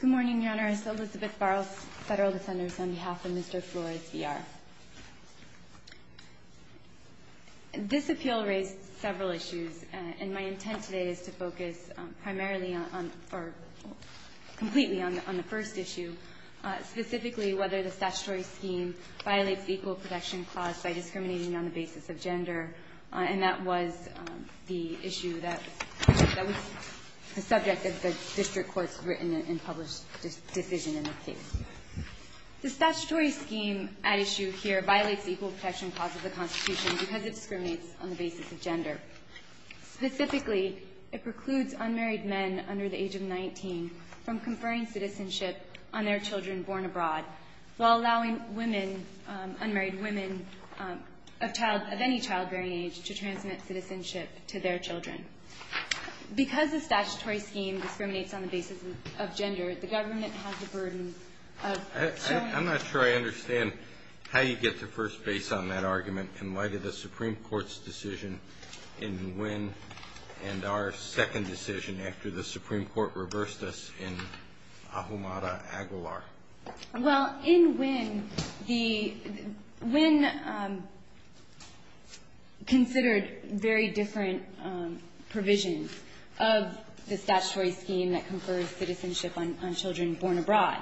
Good morning, Your Honor. It's Elizabeth Farris, Federal Defenders, on behalf of Mr. Flores-Villar. This appeal raised several issues, and my intent today is to focus primarily on or completely on the first issue, specifically whether the statutory scheme violates the Equal Protection Clause by discriminating on the basis of gender. And that was the issue that was the subject of the district court's written and published decision in the case. The statutory scheme at issue here violates the Equal Protection Clause of the Constitution because it discriminates on the basis of gender. Specifically, it precludes unmarried men under the age of 19 from conferring citizenship on their children born abroad, while allowing women, unmarried women of child – of any childbearing age to transmit citizenship to their children. Because the statutory scheme discriminates on the basis of gender, the government has the burden of – I'm not sure I understand how you get to first base on that argument in light of the Supreme Court's decision in Nguyen and our second decision after the Supreme Court reversed us in Ahumada Aguilar. Well, in Nguyen, the – Nguyen considered very different provisions of the statutory scheme that confers citizenship on children born abroad.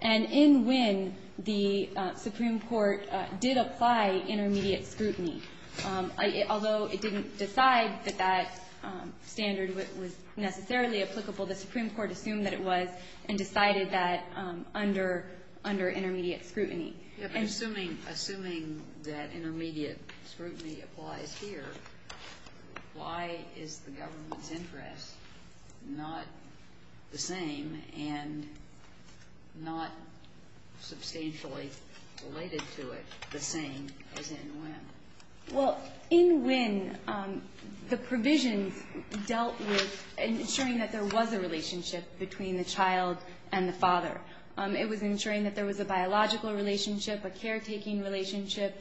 And in Nguyen, the Supreme Court did apply intermediate scrutiny. Although it didn't decide that that standard was necessarily applicable, the Supreme Court assumed that it was and decided that under – under intermediate scrutiny. And – But assuming – assuming that intermediate scrutiny applies here, why is the government's interest not the same and not substantially related to it the same as in Nguyen? Well, in Nguyen, the provisions dealt with ensuring that there was a relationship between the child and the father. It was ensuring that there was a biological relationship, a caretaking relationship,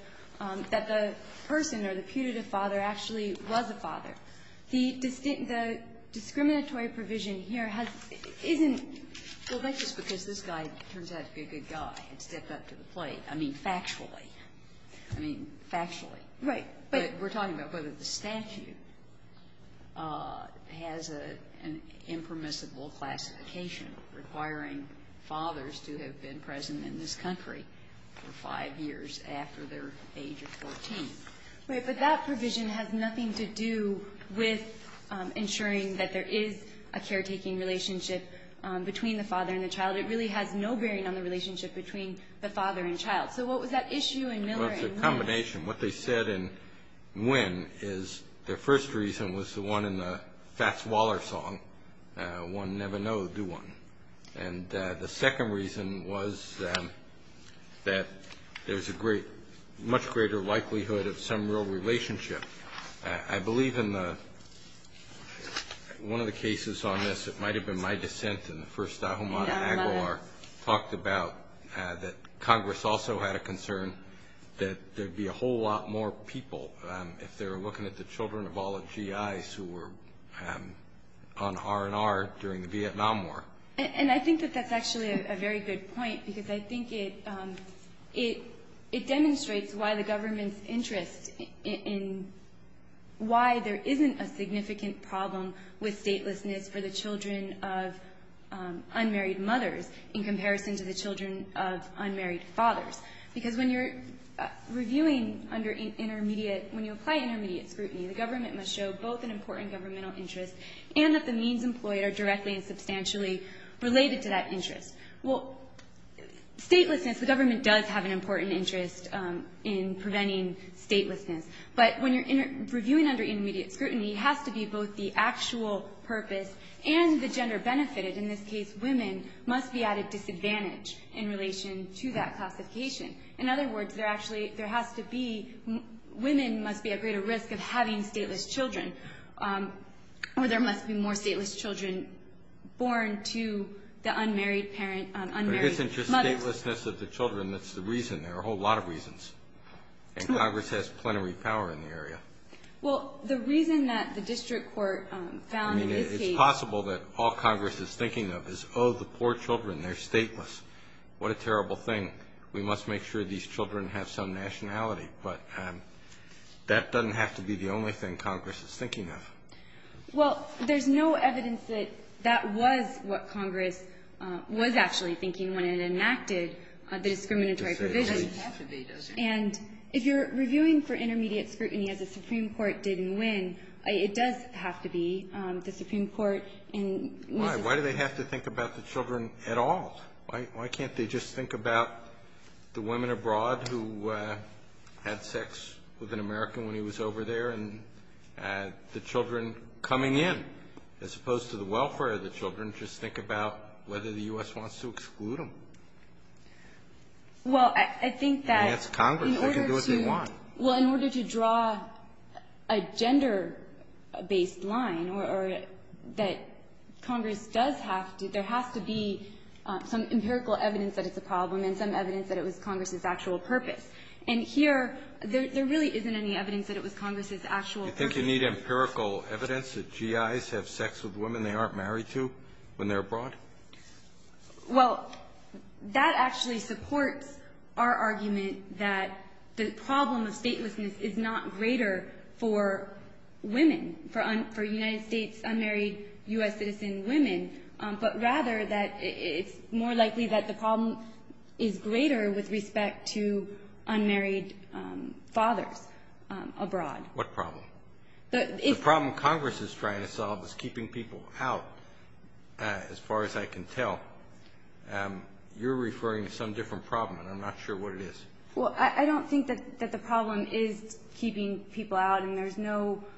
that the person or the putative father actually was a father. The – the discriminatory provision here has – isn't – Well, but just because this guy turns out to be a good guy and stepped up to the plate. I mean, factually. I mean, factually. Right. But – We're talking about whether the statute has an impermissible classification requiring fathers to have been present in this country for five years after their age of 14. Right. But that provision has nothing to do with ensuring that there is a caretaking relationship between the father and the child. It really has no bearing on the relationship between the father and child. So what was that issue in Miller and Nguyen? Well, it's a combination. What they said in Nguyen is the first reason was the one in the Fats Waller song, one never know, do one. And the second reason was that there's a great – much greater likelihood of some real relationship. I believe in the – one of the cases on this that might have been my dissent in the first Ahumada Agawar talked about that Congress also had a concern that there'd be a whole lot more people if they were looking at the children of all the G.I.s who were on R&R during the Vietnam War. And I think that that's actually a very good point because I think it – it demonstrates why the government's interest in why there isn't a significant problem with statelessness for the children of unmarried mothers in comparison to the children of unmarried fathers. Because when you're reviewing under intermediate – when you apply intermediate scrutiny, the government must show both an important governmental interest and that the means employed are directly and substantially related to that interest. Well, statelessness, the government does have an important interest in preventing statelessness. But when you're reviewing under intermediate scrutiny, it has to be both the actual purpose and the gender benefited. In this case, women must be at a disadvantage in relation to that classification. In other words, there actually – there has to be – women must be at greater risk of having stateless children, or there must be more stateless children born to the unmarried parent – unmarried mother. But it isn't just statelessness of the children that's the reason. There are a whole lot of reasons. And Congress has plenary power in the area. Well, the reason that the district court found in this case – I mean, it's possible that all Congress is thinking of is, oh, the poor children, they're stateless. What a terrible thing. We must make sure these children have some nationality. But that doesn't have to be the only thing Congress is thinking of. Well, there's no evidence that that was what Congress was actually thinking when it enacted the discriminatory provisions. It doesn't have to be, does it? And if you're reviewing for intermediate scrutiny as the Supreme Court did in Wynne, it does have to be the Supreme Court in Mrs. Wynne. Why? Why do they have to think about the children at all? Why can't they just think about the women abroad who had sex with an American when he was over there and the children coming in, as opposed to the welfare of the children? Just think about whether the U.S. wants to exclude them. Well, I think that in order to – I mean, that's Congress. They can do what they want. Well, in order to draw a gender-based line or that Congress does have to, there has to be some empirical evidence that it's a problem and some evidence that it was Congress's actual purpose. And here, there really isn't any evidence that it was Congress's actual purpose. Do you think you need empirical evidence that GIs have sex with women they aren't married to when they're abroad? Well, that actually supports our argument that the problem of statelessness is not greater for women, for United States unmarried U.S. citizen women, but rather that it's more likely that the problem is greater with respect to unmarried fathers abroad. What problem? The problem Congress is trying to solve is keeping people out, as far as I can tell. You're referring to some different problem, and I'm not sure what it is. Well, I don't think that the problem is keeping people out, and there's no –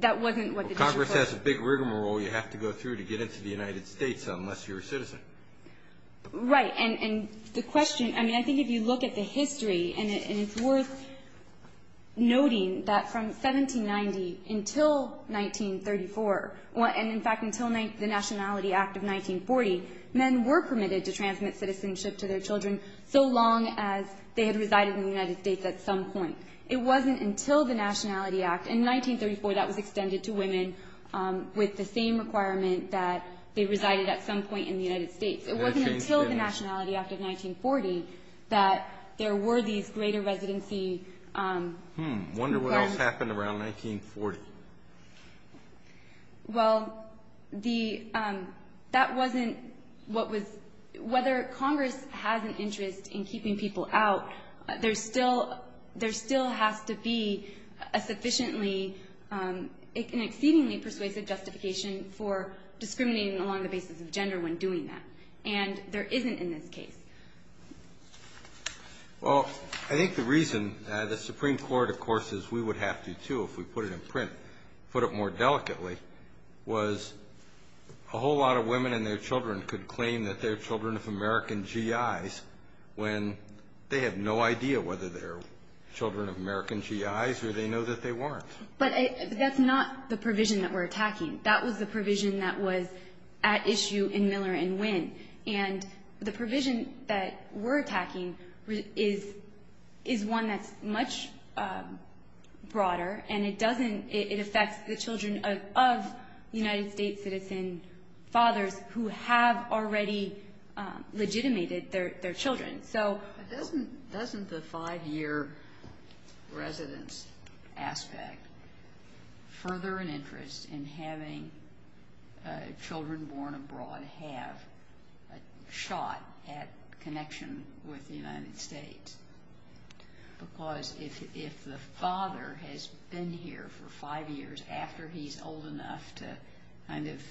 that wasn't what the difference was. Congress has a big rigmarole you have to go through to get into the United States unless you're a citizen. Right. And the question – I mean, I think if you look at the history, and it's worth noting that from 1790 until 1934, and in fact until the Nationality Act of 1940, men were permitted to transmit citizenship to their children so long as they had resided in the United States at some point. It wasn't until the Nationality Act – in 1934, that was extended to women with the same requirement that they resided at some point in the United States. It wasn't until the Nationality Act of 1940 that there were these greater residency requirements. I wonder what else happened around 1940. Well, that wasn't what was – whether Congress has an interest in keeping people out, there still has to be a sufficiently – an exceedingly persuasive justification for discriminating along the basis of gender when doing that, and there isn't in this case. Well, I think the reason the Supreme Court, of course, as we would have to too if we put it in print, put it more delicately, was a whole lot of women and their children could they have no idea whether they're children of American GIs or they know that they weren't. But that's not the provision that we're attacking. That was the provision that was at issue in Miller and Winn, and the provision that we're attacking is one that's much broader, and it doesn't – it affects the children of United States citizen fathers who have already legitimated their children. So – But doesn't the five-year residence aspect further an interest in having children born abroad have a shot at connection with the United States? Because if the father has been here for five years after he's old enough to kind of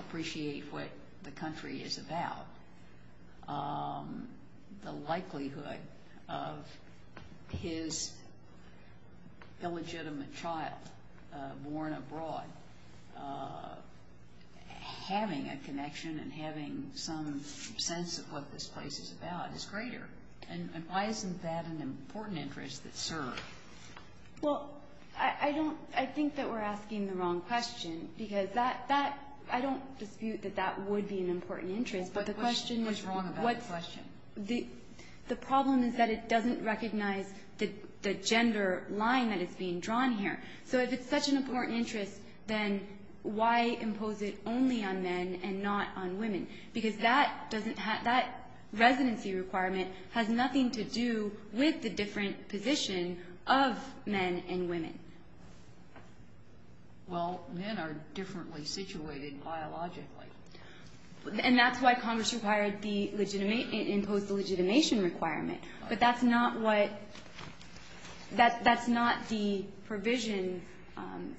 appreciate what the country is about, the likelihood of his illegitimate child born abroad having a connection and having some sense of what this place is about is greater. And why isn't that an important interest that served? Well, I don't – I think that we're asking the wrong question, because that – that – I don't dispute that that would be an important interest. But the question is what's – What's wrong about the question? The problem is that it doesn't recognize the gender line that is being drawn here. So if it's such an important interest, then why impose it only on men and not on women? Because that doesn't have – that residency requirement has nothing to do with the different position of men and women. Well, men are differently situated biologically. And that's why Congress required the – imposed the legitimation requirement. But that's not what – that's not the provision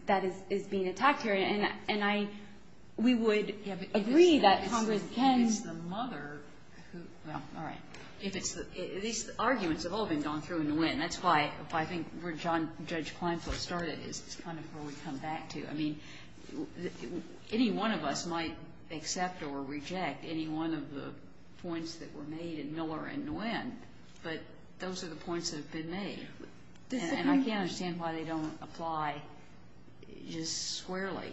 that is being attacked here. And I – we would agree that Congress can – If it's the mother who – well, all right. If it's the – these arguments have all been gone through Nguyen. That's why I think where Judge Kleinfeld started is kind of where we come back to. I mean, any one of us might accept or reject any one of the points that were made in Miller and Nguyen, but those are the points that have been made. And I can't understand why they don't apply just squarely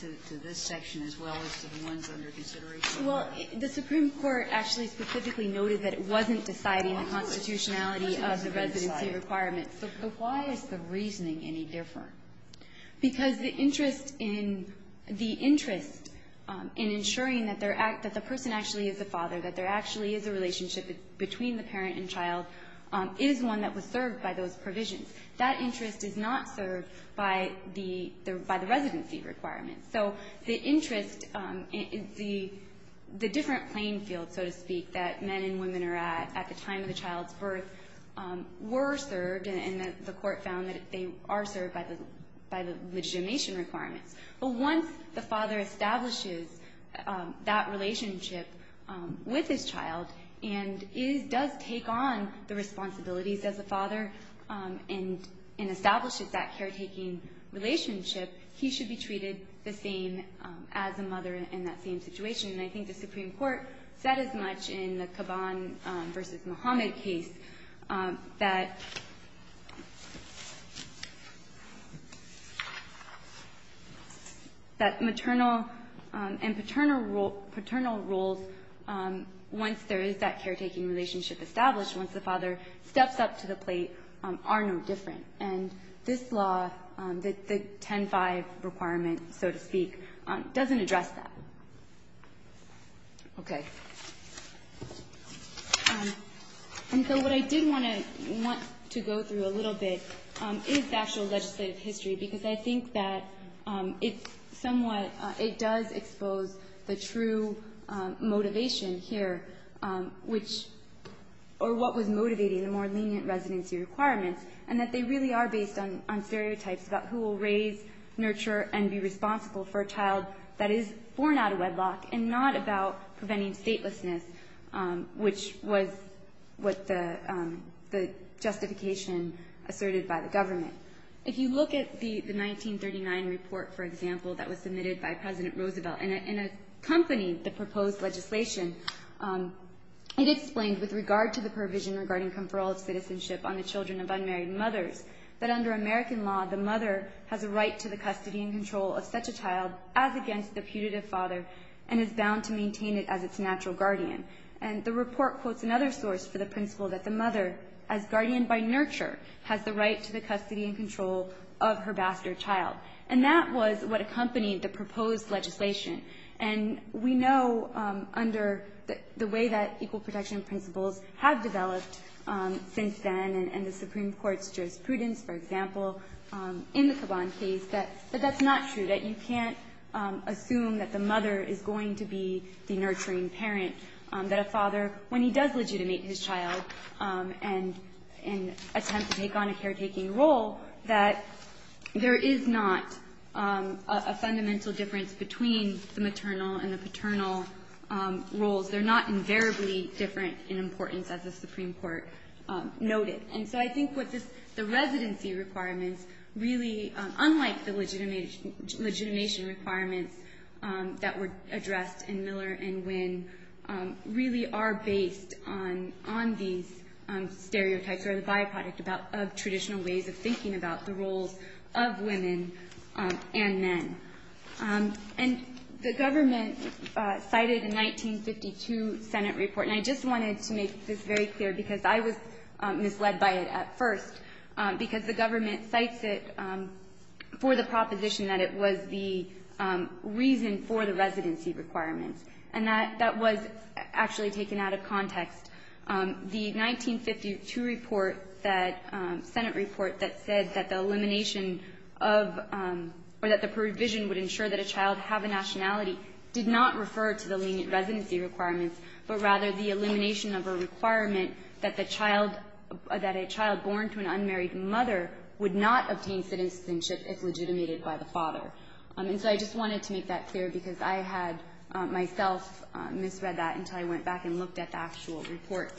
to this section as well as to the ones under consideration. Well, the Supreme Court actually specifically noted that it wasn't deciding the constitutionality of the residency requirement. So why is the reasoning any different? Because the interest in – the interest in ensuring that there – that the person actually is the father, that there actually is a relationship between the parent and child, is one that was served by those provisions. That interest is not served by the – by the residency requirements. So the interest – the different playing fields, so to speak, that men and women are at at the time of the child's birth were served, and the Court found that they are served by the – by the legitimation requirements. But once the father establishes that relationship with his child and is – does take on the responsibilities as a father and establishes that caretaking relationship, he should be treated the same as a mother in that same situation. And I think the Supreme Court said as much in the Kaban v. Muhammad case that – that maternal and paternal – paternal roles, once there is that caretaking relationship established, once the father steps up to the plate, are no different. And this law, the 10-5 requirement, so to speak, doesn't address that. Okay. And so what I did want to – want to go through a little bit is the actual legislative history, because I think that it's somewhat – it does expose the true motivation here, which – or what was motivating the more lenient residency requirements, and that they really are based on stereotypes about who will raise, nurture, and be responsible for a child that is born out of wedlock and not about preventing statelessness, which was what the justification asserted by the government. If you look at the 1939 report, for example, that was submitted by President Roosevelt and accompanied the proposed legislation, it explained with regard to the provision regarding conferral of citizenship on the children of unmarried mothers that under such a child as against the putative father and is bound to maintain it as its natural guardian. And the report quotes another source for the principle that the mother, as guardian by nurture, has the right to the custody and control of her bastard child. And that was what accompanied the proposed legislation. And we know under the way that equal protection principles have developed since then and the Supreme Court's jurisprudence, for example, in the Caban case, that that's not true, that you can't assume that the mother is going to be the nurturing parent, that a father, when he does legitimate his child and attempt to take on a caretaking role, that there is not a fundamental difference between the maternal and the paternal roles. They're not invariably different in importance, as the Supreme Court noted. And so I think what this the residency requirements really, unlike the legitimation requirements that were addressed in Miller and Wynn, really are based on these stereotypes or the byproduct of traditional ways of thinking about the roles of women and men. And the government cited a 1952 Senate report, and I just wanted to make this very clear, and I'm going to be led by it at first, because the government cites it for the proposition that it was the reason for the residency requirements. And that was actually taken out of context. The 1952 report that the Senate report that said that the elimination of or that the provision would ensure that a child have a nationality did not refer to the lenient residency requirements, but rather the elimination of a requirement that the child or that a child born to an unmarried mother would not obtain citizenship if legitimated by the father. And so I just wanted to make that clear because I had myself misread that until I went back and looked at the actual report.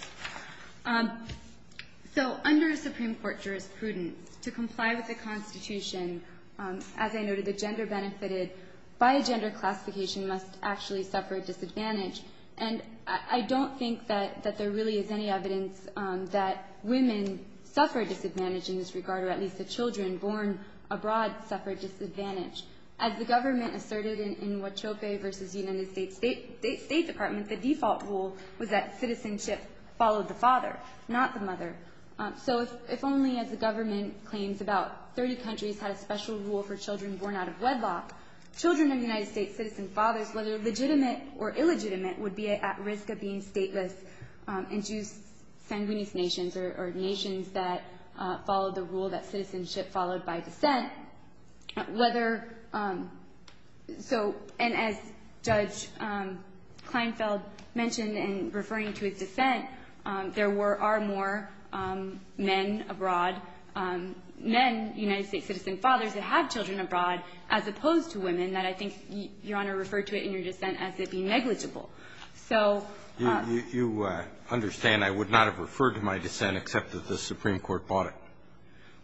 So under a Supreme Court jurisprudence, to comply with the Constitution, as I noted, the gender benefited by a gender classification must actually suffer a disadvantage. And I don't think that there really is any evidence that women suffer a disadvantage in this regard, or at least the children born abroad suffer a disadvantage. As the government asserted in Huachope v. United States State Department, the default rule was that citizenship followed the father, not the mother. So if only, as the special rule for children born out of wedlock, children of United States citizen fathers, whether legitimate or illegitimate, would be at risk of being stateless and choose sanguine nations or nations that follow the rule that citizenship followed by descent, whether so. And as Judge Kleinfeld mentioned in referring to his dissent, there were far more men abroad, men, United States citizen fathers, that have children abroad, as opposed to women, that I think, Your Honor, referred to in your dissent as it being negligible. So you understand I would not have referred to my dissent except that the Supreme Court bought it?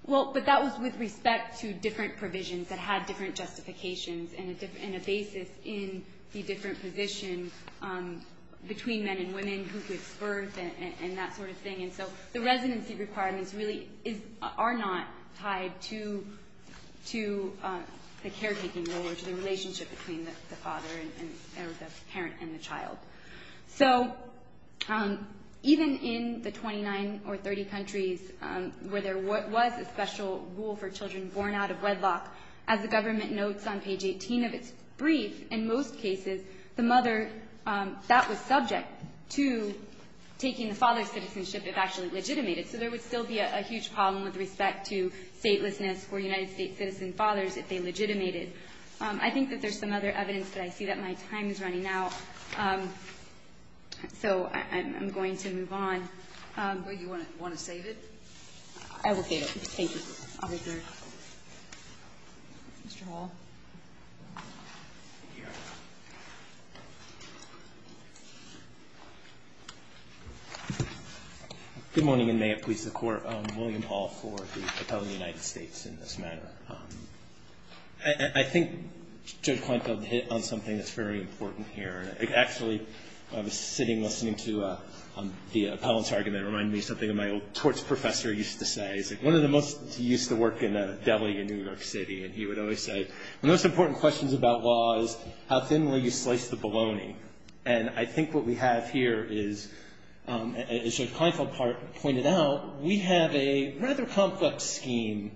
Well, but that was with respect to different provisions that had different justifications and a basis in the different positions between men and women, who gives birth and that sort of thing. And so the residency requirements really are not tied to the caretaking role or to the relationship between the father or the parent and the child. So even in the 29 or 30 countries where there was a special rule for children born out of wedlock, as the government notes on page 18 of its brief, in most cases, the mother, that was subject to taking the father's citizenship if actually legitimated. So there would still be a huge problem with respect to statelessness for United States citizen fathers if they legitimated. I think that there's some other evidence that I see that my time is running out. Do you want to save it? I will get it. Thank you. Mr. Hall. Good morning, and may it please the Court. I'm William Hall for the Appellate of the United States in this matter. I think Judge Klinko hit on something that's very important here. Actually, I was sitting listening to the appellant's argument. It reminded me of something my old torts professor used to say. He's one of the most used to work in Delhi and New York City, and he would always say, the most important questions about law is how thinly you slice the bologna. And I think what we have here is, as Judge Klinko pointed out, we have a rather complex scheme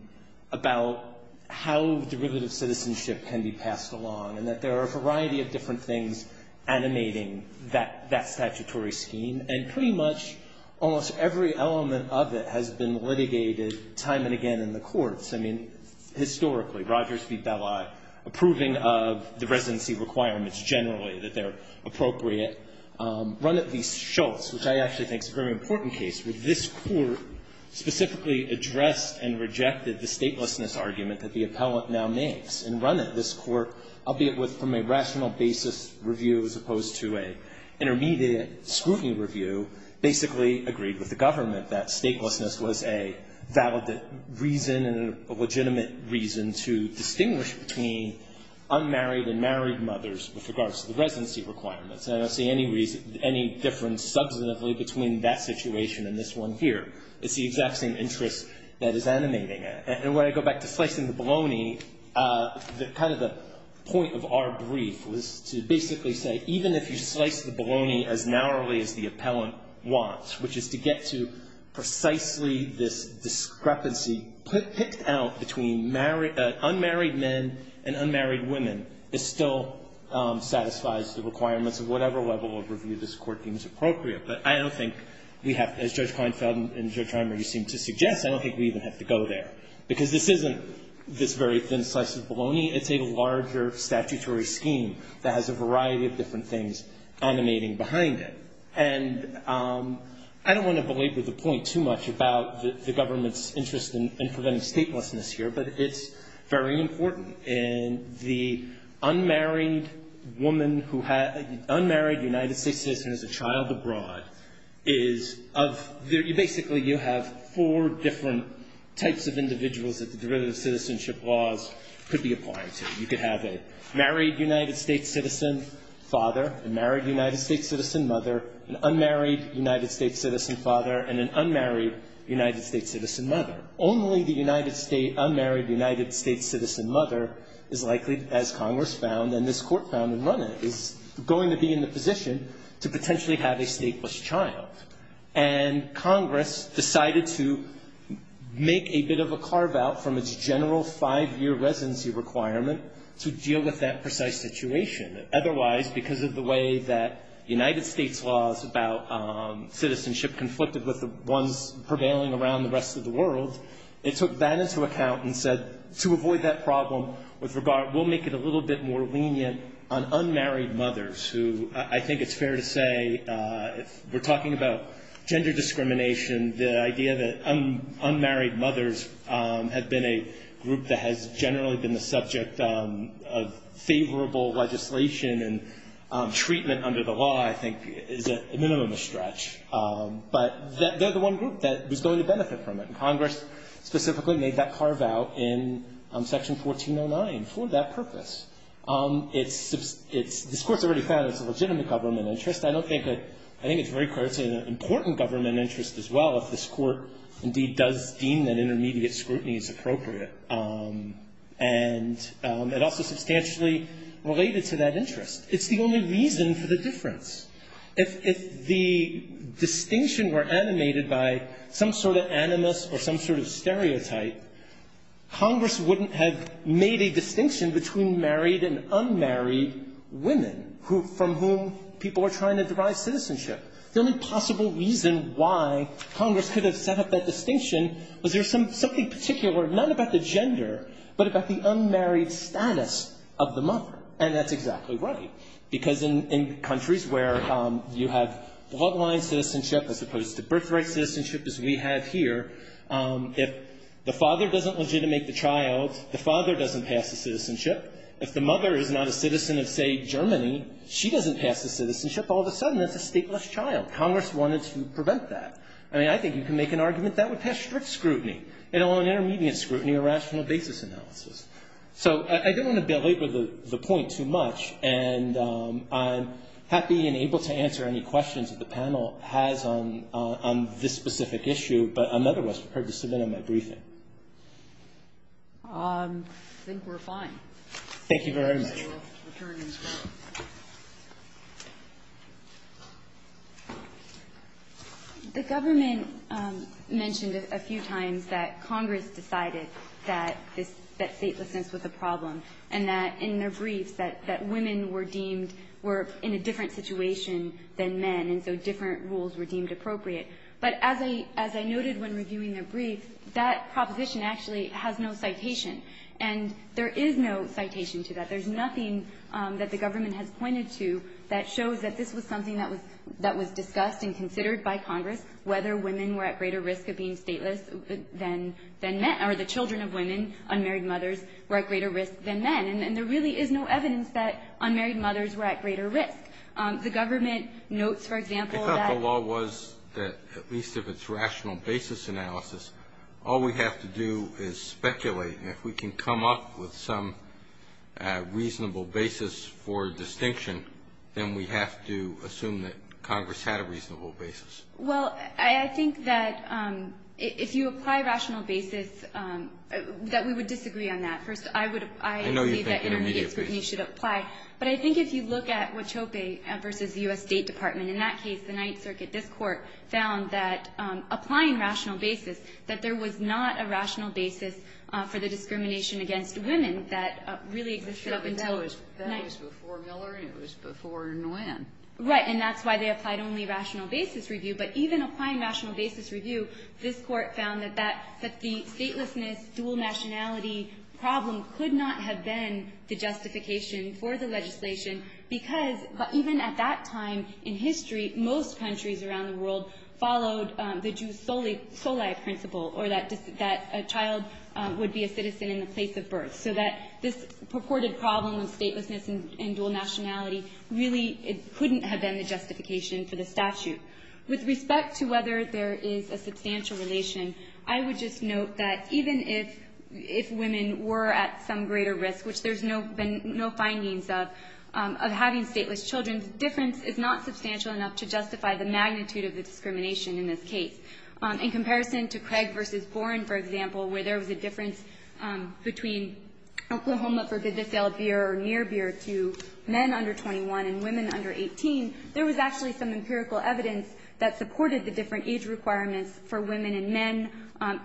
about how derivative citizenship can be passed along, and that there are a variety of different things animating that statutory scheme. And pretty much almost every element of it has been litigated time and again in the courts. I mean, historically, Rogers v. Belli, approving of the residency requirements generally, that they're appropriate, run at least Schultz, which I actually think is a very important case, where this argument that the appellant now makes and run at this court, albeit from a rational basis review as opposed to an intermediate scrutiny review, basically agreed with the government that statelessness was a valid reason and a legitimate reason to distinguish between unmarried and married mothers with regards to the residency requirements. And I don't see any reason, any difference substantively between that situation and this one here. It's the exact same interest that is animating it. And when I go back to slicing the bologna, kind of the point of our brief was to basically say, even if you slice the bologna as narrowly as the appellant wants, which is to get to precisely this discrepancy picked out between unmarried men and unmarried women, it still satisfies the requirements of whatever level of review this Court deems appropriate. But I don't think we have, as Judge Kleinfeld and Judge Reimer, you seem to suggest, I don't think we even have to go there. Because this isn't this very thin slice of bologna. It's a larger statutory scheme that has a variety of different things animating behind it. And I don't want to belabor the point too much about the government's interest in preventing statelessness here, but it's very important. And the unmarried woman who had, unmarried United States citizen as a child abroad is of, basically you have four different types of individuals that the derivative citizenship laws could be applying to. You could have a married United States citizen, father, a married United States citizen, mother, an unmarried United States citizen, father, and an unmarried United States citizen, mother. Only the United States, unmarried United States citizen, mother, is likely, as Congress found and this Court found and run it, is going to be in the position to potentially have a stateless child. And Congress decided to make a bit of a carve-out from its general five-year residency requirement to deal with that precise situation. Otherwise, because of the way that United States laws about citizenship conflicted with the ones prevailing around the rest of the world, it took that into account and said, to avoid that problem with regard, we'll make it a little bit more lenient on unmarried mothers who, I think it's fair to say, if we're talking about gender discrimination, the idea that unmarried mothers have been a group that has generally been the subject of favorable legislation and treatment under the law, I think, is a minimum of stretch. But they're the one group that was going to benefit from it. And Congress specifically made that carve-out in Section 1409 for that purpose. It's — this Court's already found it's a legitimate government interest. I don't think that — I think it's very clear it's an important government interest as well if this Court indeed does deem that intermediate scrutiny is appropriate and also substantially related to that interest. It's the only reason for the difference. If the distinction were animated by some sort of animus or some sort of stereotype, Congress wouldn't have made a distinction between married and unmarried women who — from whom people were trying to derive citizenship. The only possible reason why Congress could have set up that distinction was there was something particular, not about the gender, but about the unmarried status of the mother. And that's exactly right. Because in countries where you have bloodline citizenship as opposed to birthright citizenship as we have here, if the father doesn't legitimate the child, the father doesn't pass the citizenship. If the mother is not a citizen of, say, Germany, she doesn't pass the citizenship. All of a sudden, that's a stateless child. Congress wanted to prevent that. I mean, I think you can make an argument that would pass strict scrutiny. You know, on intermediate scrutiny or rational basis analysis. So I don't want to belabor the point too much. And I'm happy and able to answer any questions that the panel has on this specific issue, but I'm otherwise prepared to submit on my briefing. I think we're fine. Thank you very much. The government mentioned a few times that Congress decided that this – that statelessness was a problem, and that in their briefs that women were deemed – were in a different situation than men, and so different rules were deemed appropriate. But as I noted when reviewing their brief, that proposition actually has no citation. And there is no citation to that. There's nothing that the government has pointed to that shows that this was something that was discussed and considered by Congress, whether women were at greater risk of being stateless than men, or the children of women, unmarried mothers, were at greater risk than men. And there really is no evidence that unmarried mothers were at greater risk. The government notes, for example, that – I thought the law was that, at least if it's rational basis analysis, all we have to do is speculate. And if we can come up with some reasonable basis for distinction, then we have to assume that Congress had a reasonable basis. Well, I think that if you apply rational basis, that we would disagree on that. First, I would – I know you think intermediate basis. But I think if you look at Huachope v. U.S. State Department, in that case, the Ninth that really existed up until – But that was before Miller, and it was before Nguyen. Right. And that's why they applied only rational basis review. But even applying rational basis review, this Court found that that – that the statelessness, dual nationality problem could not have been the justification for the legislation because – even at that time in history, most countries around the world followed the Jus soli principle, or that a child would be a citizen in the place of birth. So that this purported problem of statelessness and dual nationality really couldn't have been the justification for the statute. With respect to whether there is a substantial relation, I would just note that even if women were at some greater risk, which there's been no findings of, of having stateless children, the difference is not substantial enough to justify the magnitude of the discrimination in this case. In comparison to Craig v. Boren, for example, where there was a difference between Oklahoma for good-to-sale beer or near beer to men under 21 and women under 18, there was actually some empirical evidence that supported the different age requirements for women and men.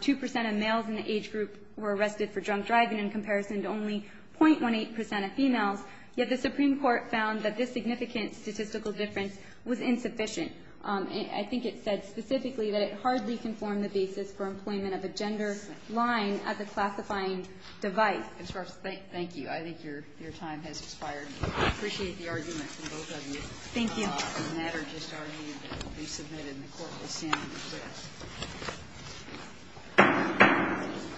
Two percent of males in the age group were arrested for drunk driving in comparison to only 0.18 percent of females. Yet the Supreme Court found that this significant statistical difference was insufficient. I think it said specifically that it hardly conformed the basis for employment of a gender line as a classifying device. Ms. Rocha, thank you. I think your time has expired. I appreciate the argument from both of you. Thank you. The matter just argued to be submitted, and the Court will stand and request.